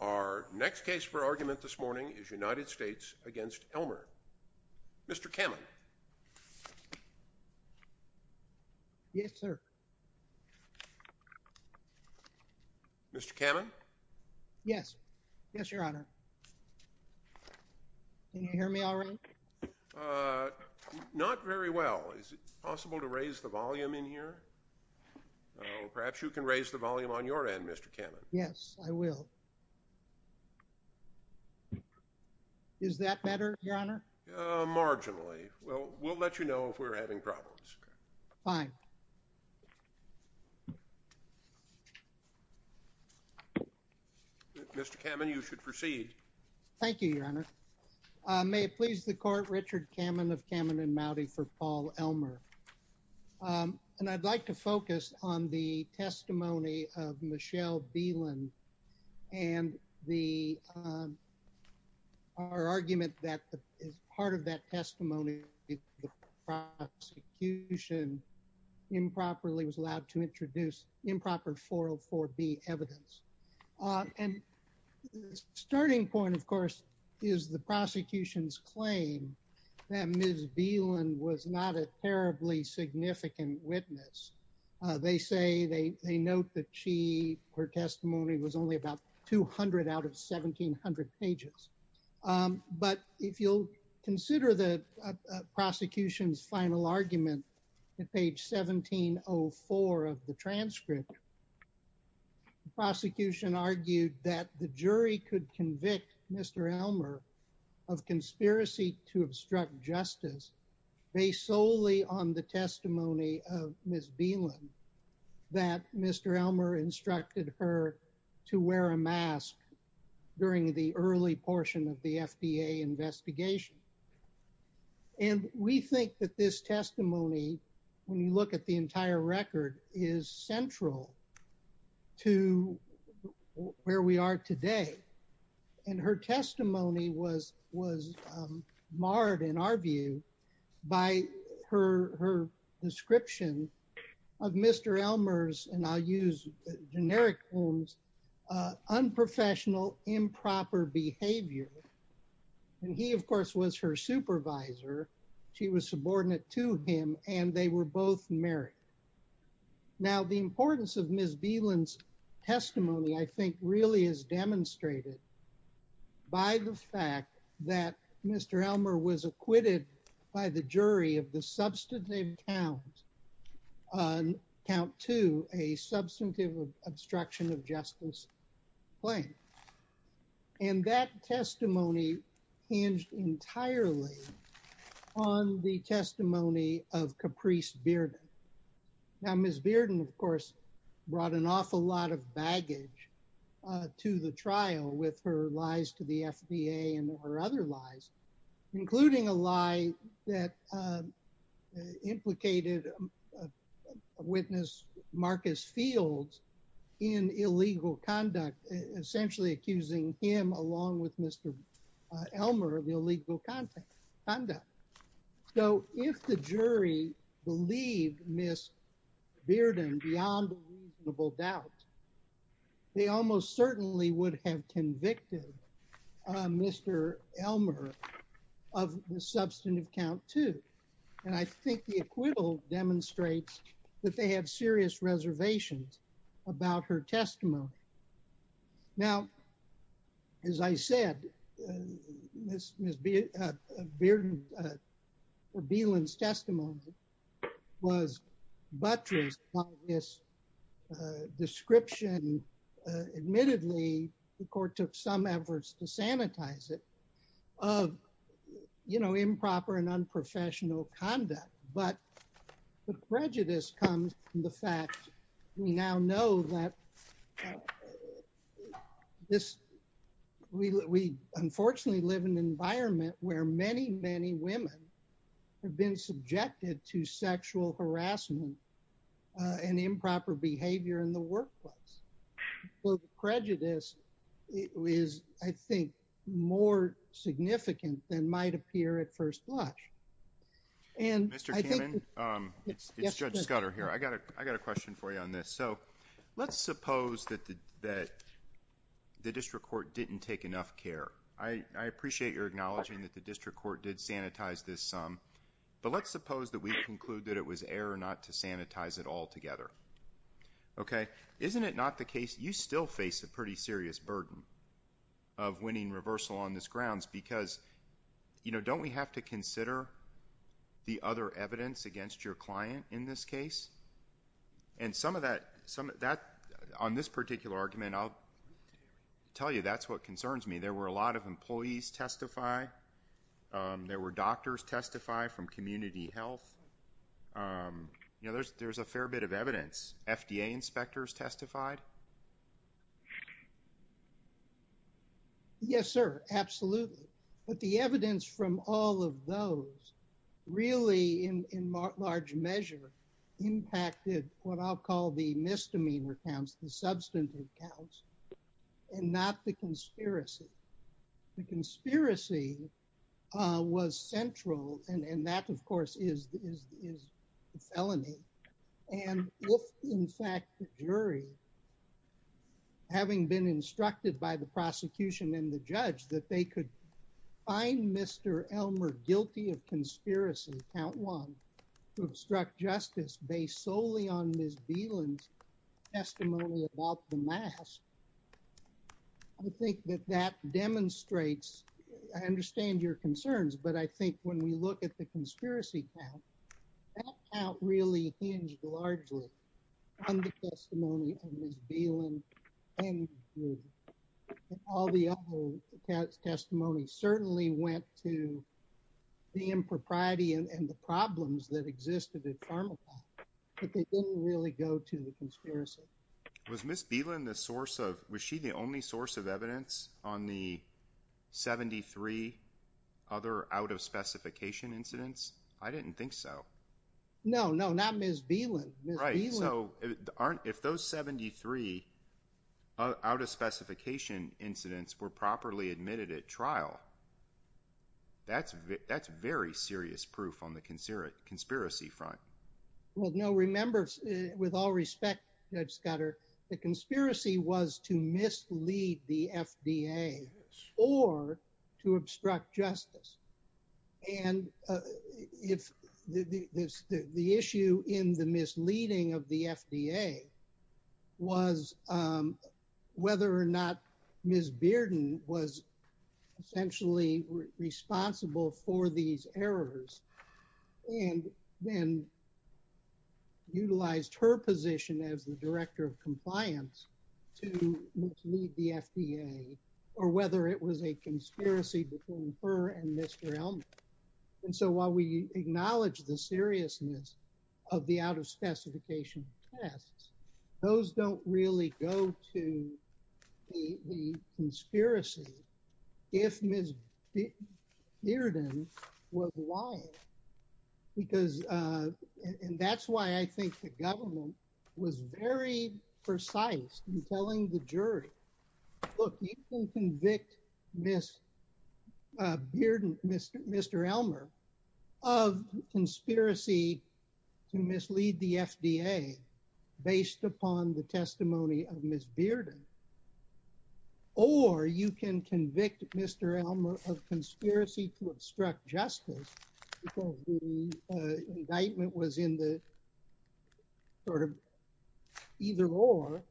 Our next case for argument this morning is United States v. Elmer. Mr. Kamen? Yes, sir. Mr. Kamen? Yes. Yes, Your Honor. Can you hear me all right? Not very well. Is it possible to raise the volume in here? Perhaps you can raise the volume on your end, Mr. Kamen. Yes, I will. Is that better, Your Honor? Marginally. Well, we'll let you know if we're having problems. Fine. Mr. Kamen, you should proceed. Thank you, Your Honor. May it please the Court, Richard Kamen of Kamen and Mowdy for Paul Elmer. And I'd like to focus on the testimony of Michelle Beeland and the argument that part of that testimony, the prosecution improperly was allowed to introduce improper 404B evidence. And the starting point, of course, is the prosecution's claim that Ms. Beeland was not a terribly significant witness. They say they note that she, her testimony was only about 200 out of 1700 pages. But if you'll consider the prosecution's final argument at page 1704 of the transcript, the prosecution argued that the jury could convict Mr. Elmer of conspiracy to obstruct justice based solely on the testimony of Ms. Beeland, that Mr. Elmer instructed her to wear a mask during the early portion of the FDA investigation. And we think that this testimony, when you look at the entire record, is central to where we are today. And her testimony was marred, in our view, by her description of Mr. Elmer's, and I'll use generic terms, unprofessional improper behavior. And he, of course, was her supervisor. She was subordinate to him, and they were both married. Now, the importance of Ms. Beeland's testimony, I think, really is demonstrated by the fact that Mr. Elmer was acquitted by the jury of the substantive count to a substantive obstruction of justice claim. And that testimony hinged entirely on the testimony of Caprice Beerden. Now, Ms. Beerden, of course, brought an awful lot of baggage to the trial with her lies to the FDA and her other lies, including a lie that implicated witness Marcus Fields in illegal conduct, essentially accusing him, along with Mr. Elmer, of illegal conduct. So, if the jury believed Ms. Beerden beyond a reasonable doubt, they almost certainly would have convicted Mr. Elmer of the substantive count too. And I think the acquittal demonstrates that they have serious reservations about her testimony. Now, as I said, Ms. Beerden or Beeland's testimony was buttressed by this description. Admittedly, the court took some efforts to sanitize it of improper and unprofessional conduct. But the prejudice comes from the fact we now know that we unfortunately live in an environment where many, many women have been subjected to sexual harassment and improper behavior in the workplace. So the prejudice is, I think, more significant than might appear at first blush. Mr. Kamin, it's Judge Scudder here. I got a question for you on this. So, let's suppose that the district court didn't take enough care. I appreciate your acknowledging that the district court did sanitize this sum. But let's suppose that we conclude that it was error not to sanitize it altogether. Okay? Isn't it not the case you still face a pretty serious burden of winning reversal on this grounds? Because, you know, don't we have to consider the other evidence against your client in this case? And some of that, on this particular argument, I'll tell you that's what concerns me. There were a lot of employees testify. There were doctors testify from community health. You know, there's a fair bit of evidence. FDA inspectors testified. Yes, sir. Absolutely. But the evidence from all of those really, in large measure, impacted what I'll call the misdemeanor counts, the substantive counts, and not the conspiracy. The conspiracy was central. And that, of course, is the felony. And if, in fact, the jury, having been instructed by the prosecution and the judge that they could find Mr. Elmer guilty of conspiracy, count one, to obstruct justice based solely on Ms. Beeland's testimony about the mask, I think that that demonstrates, I understand your concerns, but I think when we look at the conspiracy count, that count really hinged largely on the testimony of Ms. Beeland and all the other testimonies certainly went to the impropriety and the problems that existed at Pharmacy, but they didn't really go to the conspiracy. Was Ms. Beeland the source of, was she the only source of evidence on the 73 other out-of-specification incidents? I didn't think so. No, no, not Ms. Beeland. Right. So if those 73 out-of-specification incidents were properly admitted at trial, that's very serious proof on the conspiracy front. Well, no, remember, with all respect, Judge Scudder, the conspiracy was to mislead the FDA or to obstruct justice. And if the issue in the misleading of the FDA was whether or not Ms. responsible for these errors and then utilized her position as the director of compliance to mislead the FDA or whether it was a conspiracy between her and Mr. Elmer. And so while we acknowledge the seriousness of the out-of-specification tests, those don't really go to the conspiracy. If Ms. Beerden was lying, because, and that's why I think the government was very precise in telling the jury, look, you can convict Ms. Beerden, Mr. Mr. Elmer of conspiracy to mislead the FDA based upon the testimony of Ms. Beerden. Or you can convict Mr. Elmer of conspiracy to obstruct justice because the indictment was in the sort of either or.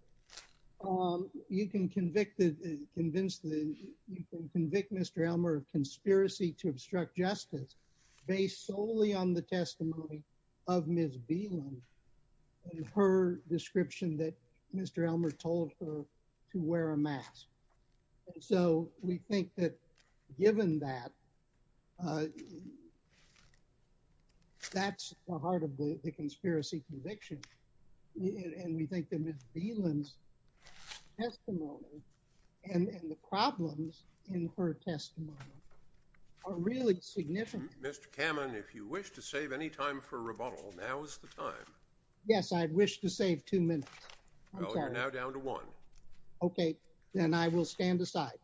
You can convict that convinced that you can convict Mr. Elmer of conspiracy to obstruct justice based solely on the testimony of Ms. Beerden. Her description that Mr. Elmer told her to wear a mask. So we think that given that. That's the heart of the conspiracy conviction. And we think that Ms. Beerden's testimony and the problems in her testimony are really significant. Mr. Kamen, if you wish to save any time for rebuttal, now is the time. Yes, I wish to save two minutes. You're now down to one. OK, then I will stand aside.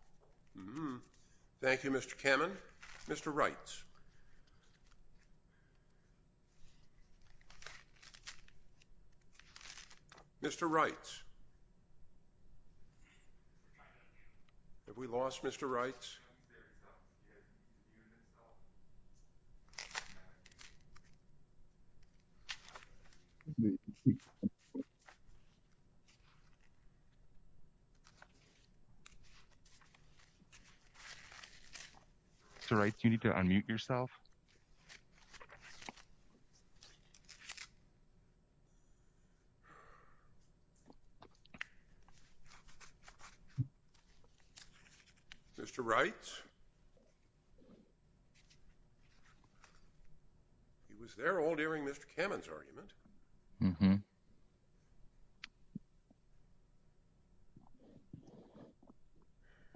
Thank you, Mr. Kamen. Mr. Wright. Mr. Wright. Have we lost Mr. Wright? Mr. Wright, you need to unmute yourself. Mr. Wright. He was there all during Mr. Kamen's argument. Mm hmm.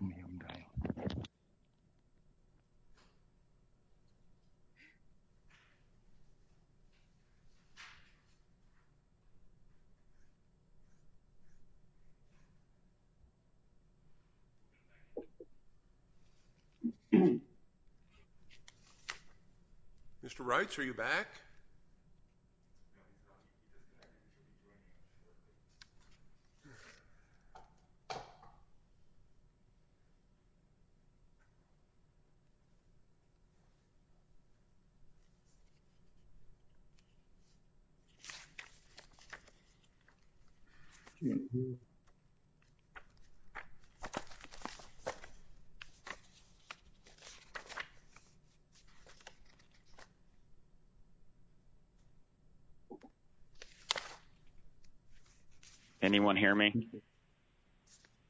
Mm hmm. Mr. Wright, are you back?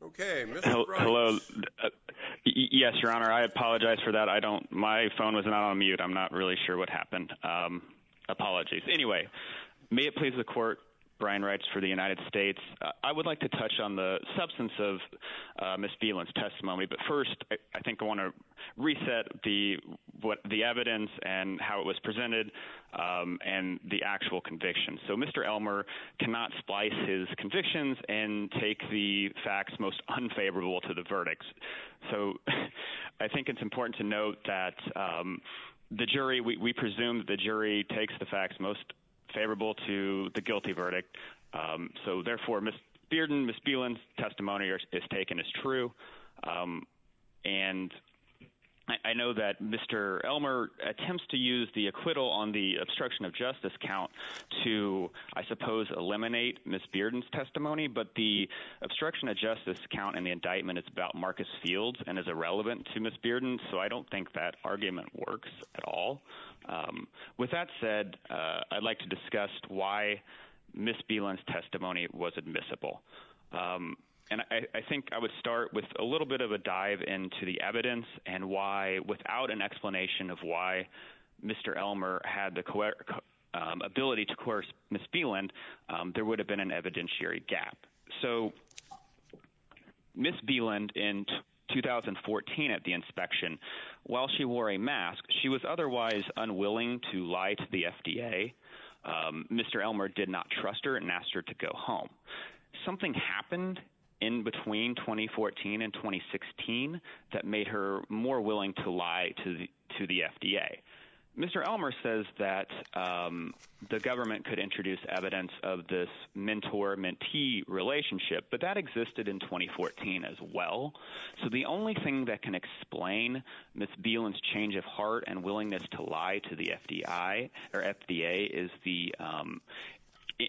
OK. Hello. Yes, Your Honor. I apologize for that. I don't. My phone was not on mute. I'm not really sure what happened. Apologies anyway. May it please the court. Brian writes for the United States. I would like to touch on the substance of Ms. Beerden's testimony. But first, I think I want to reset the what the evidence and how it was presented and the actual conviction. So Mr. Elmer cannot splice his convictions and take the facts most unfavorable to the verdicts. So I think it's important to note that the jury we presume the jury takes the facts most favorable to the guilty verdict. So therefore, Ms. Bearden, Ms. Beeland's testimony is taken as true. And I know that Mr. Elmer attempts to use the acquittal on the obstruction of justice count to, I suppose, eliminate Ms. Bearden's testimony. But the obstruction of justice count in the indictment, it's about Marcus Fields and is irrelevant to Ms. Bearden. So I don't think that argument works at all. With that said, I'd like to discuss why Ms. Beeland's testimony was admissible. And I think I would start with a little bit of a dive into the evidence and why without an explanation of why Mr. Elmer had the ability to coerce Ms. Beeland, there would have been an evidentiary gap. So Ms. Beeland in 2014 at the inspection, while she wore a mask, she was otherwise unwilling to lie to the FDA. Mr. Elmer did not trust her and asked her to go home. Something happened in between 2014 and 2016 that made her more willing to lie to the FDA. Mr. Elmer says that the government could introduce evidence of this mentor-mentee relationship, but that existed in 2014 as well. So the only thing that can explain Ms. Beeland's change of heart and willingness to lie to the FDA is the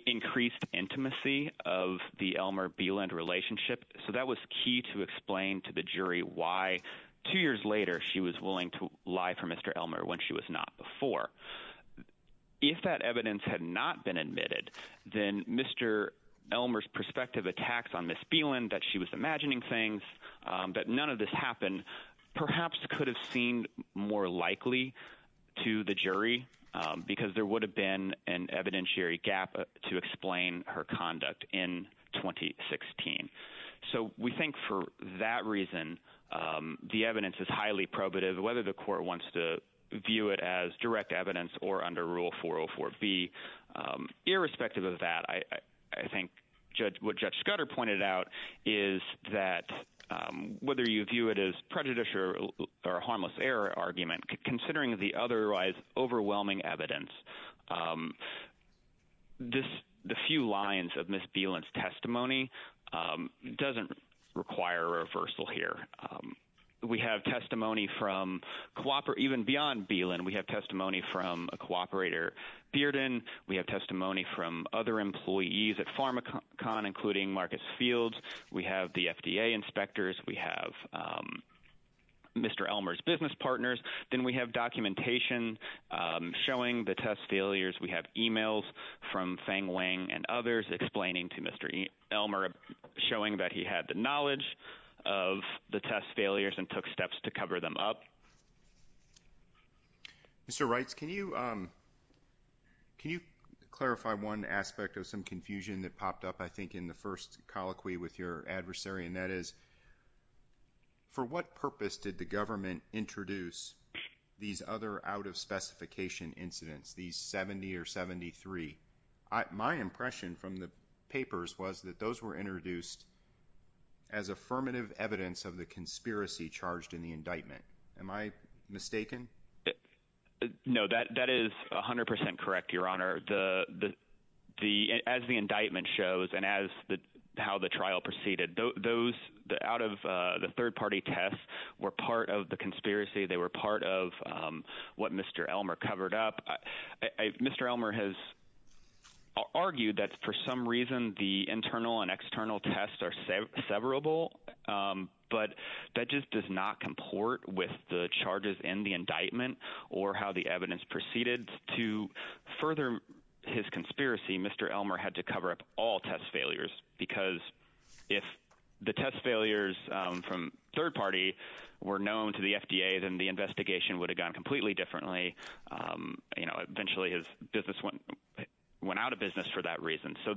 increased intimacy of the Elmer-Beeland relationship. So that was key to explain to the jury why two years later she was willing to lie for Mr. Elmer when she was not before. If that evidence had not been admitted, then Mr. Elmer's prospective attacks on Ms. Beeland, that she was imagining things, that none of this happened, perhaps could have seemed more likely to the jury because there would have been an evidentiary gap to explain her conduct in 2016. So we think for that reason, the evidence is highly probative, whether the court wants to view it as direct evidence or under Rule 404B. Irrespective of that, I think what Judge Scudder pointed out is that whether you view it as prejudice or a harmless error argument, considering the otherwise overwhelming evidence, the few lines of Ms. Beeland's testimony doesn't require a reversal here. We have testimony from even beyond Beeland. We have testimony from a cooperator, Bearden. We have testimony from other employees at Pharmacon, including Marcus Fields. We have the FDA inspectors. We have Mr. Elmer's business partners. Then we have documentation showing the test failures. We have emails from Feng Wang and others explaining to Mr. Elmer, showing that he had the knowledge of the test failures and took steps to cover them up. Mr. Reitz, can you clarify one aspect of some confusion that popped up, I think, in the first colloquy with your adversary? And that is, for what purpose did the government introduce these other out-of-specification incidents, these 70 or 73? My impression from the papers was that those were introduced as affirmative evidence of the conspiracy charged in the indictment. Am I mistaken? No, that is 100 percent correct, Your Honor. As the indictment shows and as how the trial proceeded, those out-of-the-third-party tests were part of the conspiracy. They were part of what Mr. Elmer covered up. Mr. Elmer has argued that for some reason the internal and external tests are severable, but that just does not comport with the charges in the indictment or how the evidence proceeded. To further his conspiracy, Mr. Elmer had to cover up all test failures because if the test failures from third party were known to the FDA, then the investigation would have gone completely differently. Eventually his business went out of business for that reason. So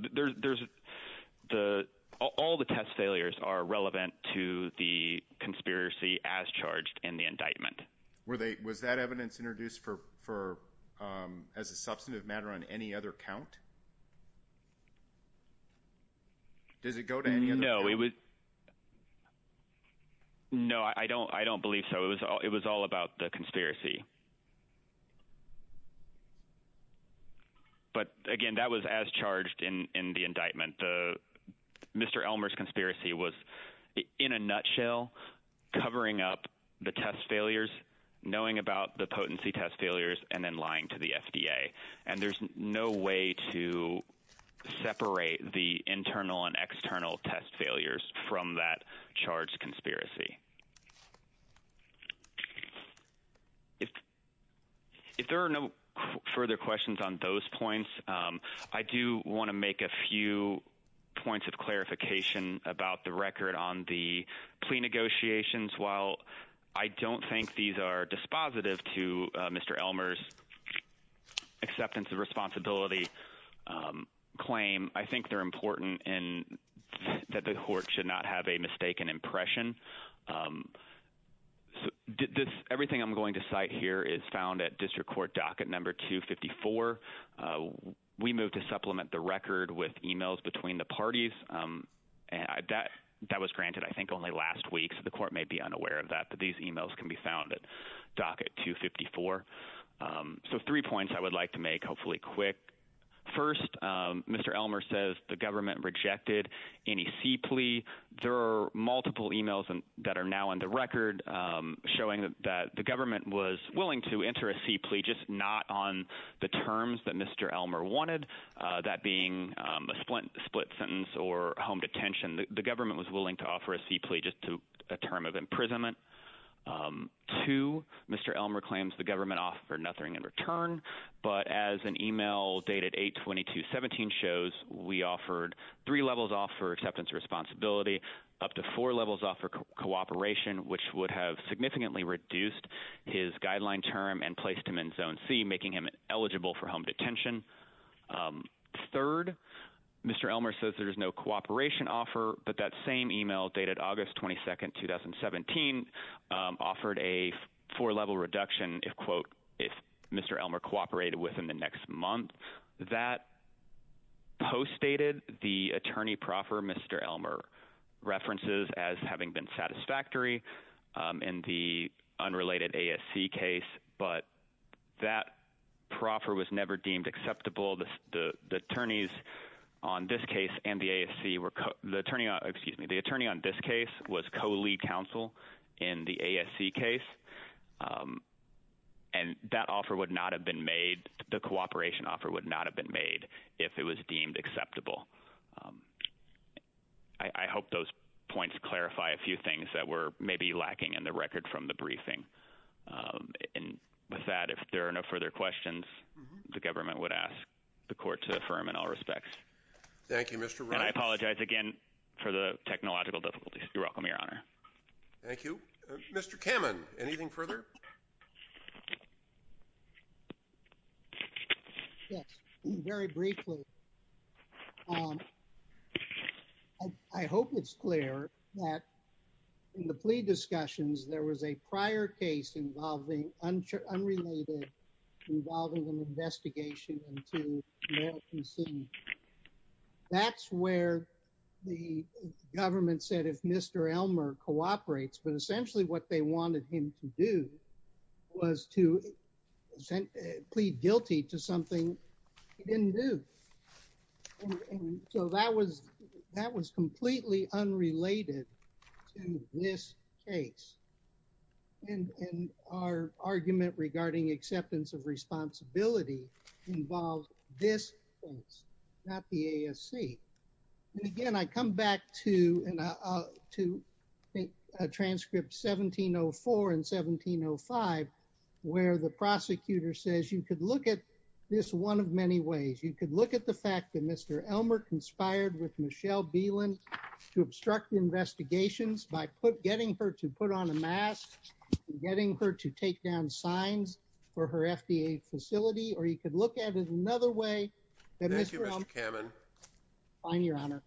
all the test failures are relevant to the conspiracy as charged in the indictment. Was that evidence introduced as a substantive matter on any other count? Does it go to any other count? No, I don't believe so. It was all about the conspiracy. But again, that was as charged in the indictment. Mr. Elmer's conspiracy was in a nutshell covering up the test failures, knowing about the potency test failures, and then lying to the FDA. And there's no way to separate the internal and external test failures from that charge conspiracy. If there are no further questions on those points, I do want to make a few points of clarification about the record on the plea negotiations. While I don't think these are dispositive to Mr. Elmer's acceptance of responsibility claim, I think they're important and that the court should not have a mistaken impression. Everything I'm going to cite here is found at District Court Docket Number 254. We moved to supplement the record with emails between the parties. That was granted I think only last week, so the court may be unaware of that, but these emails can be found at Docket 254. So three points I would like to make, hopefully quick. First, Mr. Elmer says the government rejected any C plea. There are multiple emails that are now on the record showing that the government was willing to enter a C plea, just not on the terms that Mr. Elmer wanted, that being a split sentence or home detention. The government was willing to offer a C plea just to a term of imprisonment. Two, Mr. Elmer claims the government offered nothing in return, but as an email dated 8-22-17 shows, we offered three levels off for acceptance of responsibility, up to four levels off for cooperation, which would have significantly reduced his guideline term and placed him in Zone C, making him eligible for home detention. Third, Mr. Elmer says there is no cooperation offer, but that same email dated August 22, 2017 offered a four-level reduction if, quote, if Mr. Elmer cooperated with him the next month. That postdated the attorney proffer Mr. Elmer references as having been satisfactory in the unrelated ASC case, but that proffer was never deemed acceptable. The attorneys on this case and the ASC were, excuse me, the attorney on this case was co-lead counsel in the ASC case, and that offer would not have been made, the cooperation offer would not have been made if it was deemed acceptable. I hope those points clarify a few things that were maybe lacking in the record from the briefing, and with that, if there are no further questions, the government would ask the court to affirm in all respects. Thank you, Mr. Wright. And I apologize again for the technological difficulties. You're welcome, Your Honor. Thank you. Mr. Kamen, anything further? Yes, very briefly. I hope it's clear that in the plea discussions, there was a prior case involving unrelated, involving an investigation into male consent. That's where the government said if Mr. Elmer cooperates, but essentially what they wanted him to do was to plead guilty to something he didn't do. So that was completely unrelated to this case. And our argument regarding acceptance of responsibility involved this case, not the ASC. And again, I come back to a transcript 1704 and 1705, where the prosecutor says you could look at this one of many ways. You could look at the fact that Mr. Elmer conspired with Michelle Beeland to obstruct investigations by getting her to put on a mask, getting her to take down signs for her FDA facility, or you could look at it another way. Thank you, Mr. Kamen. Fine, Your Honor.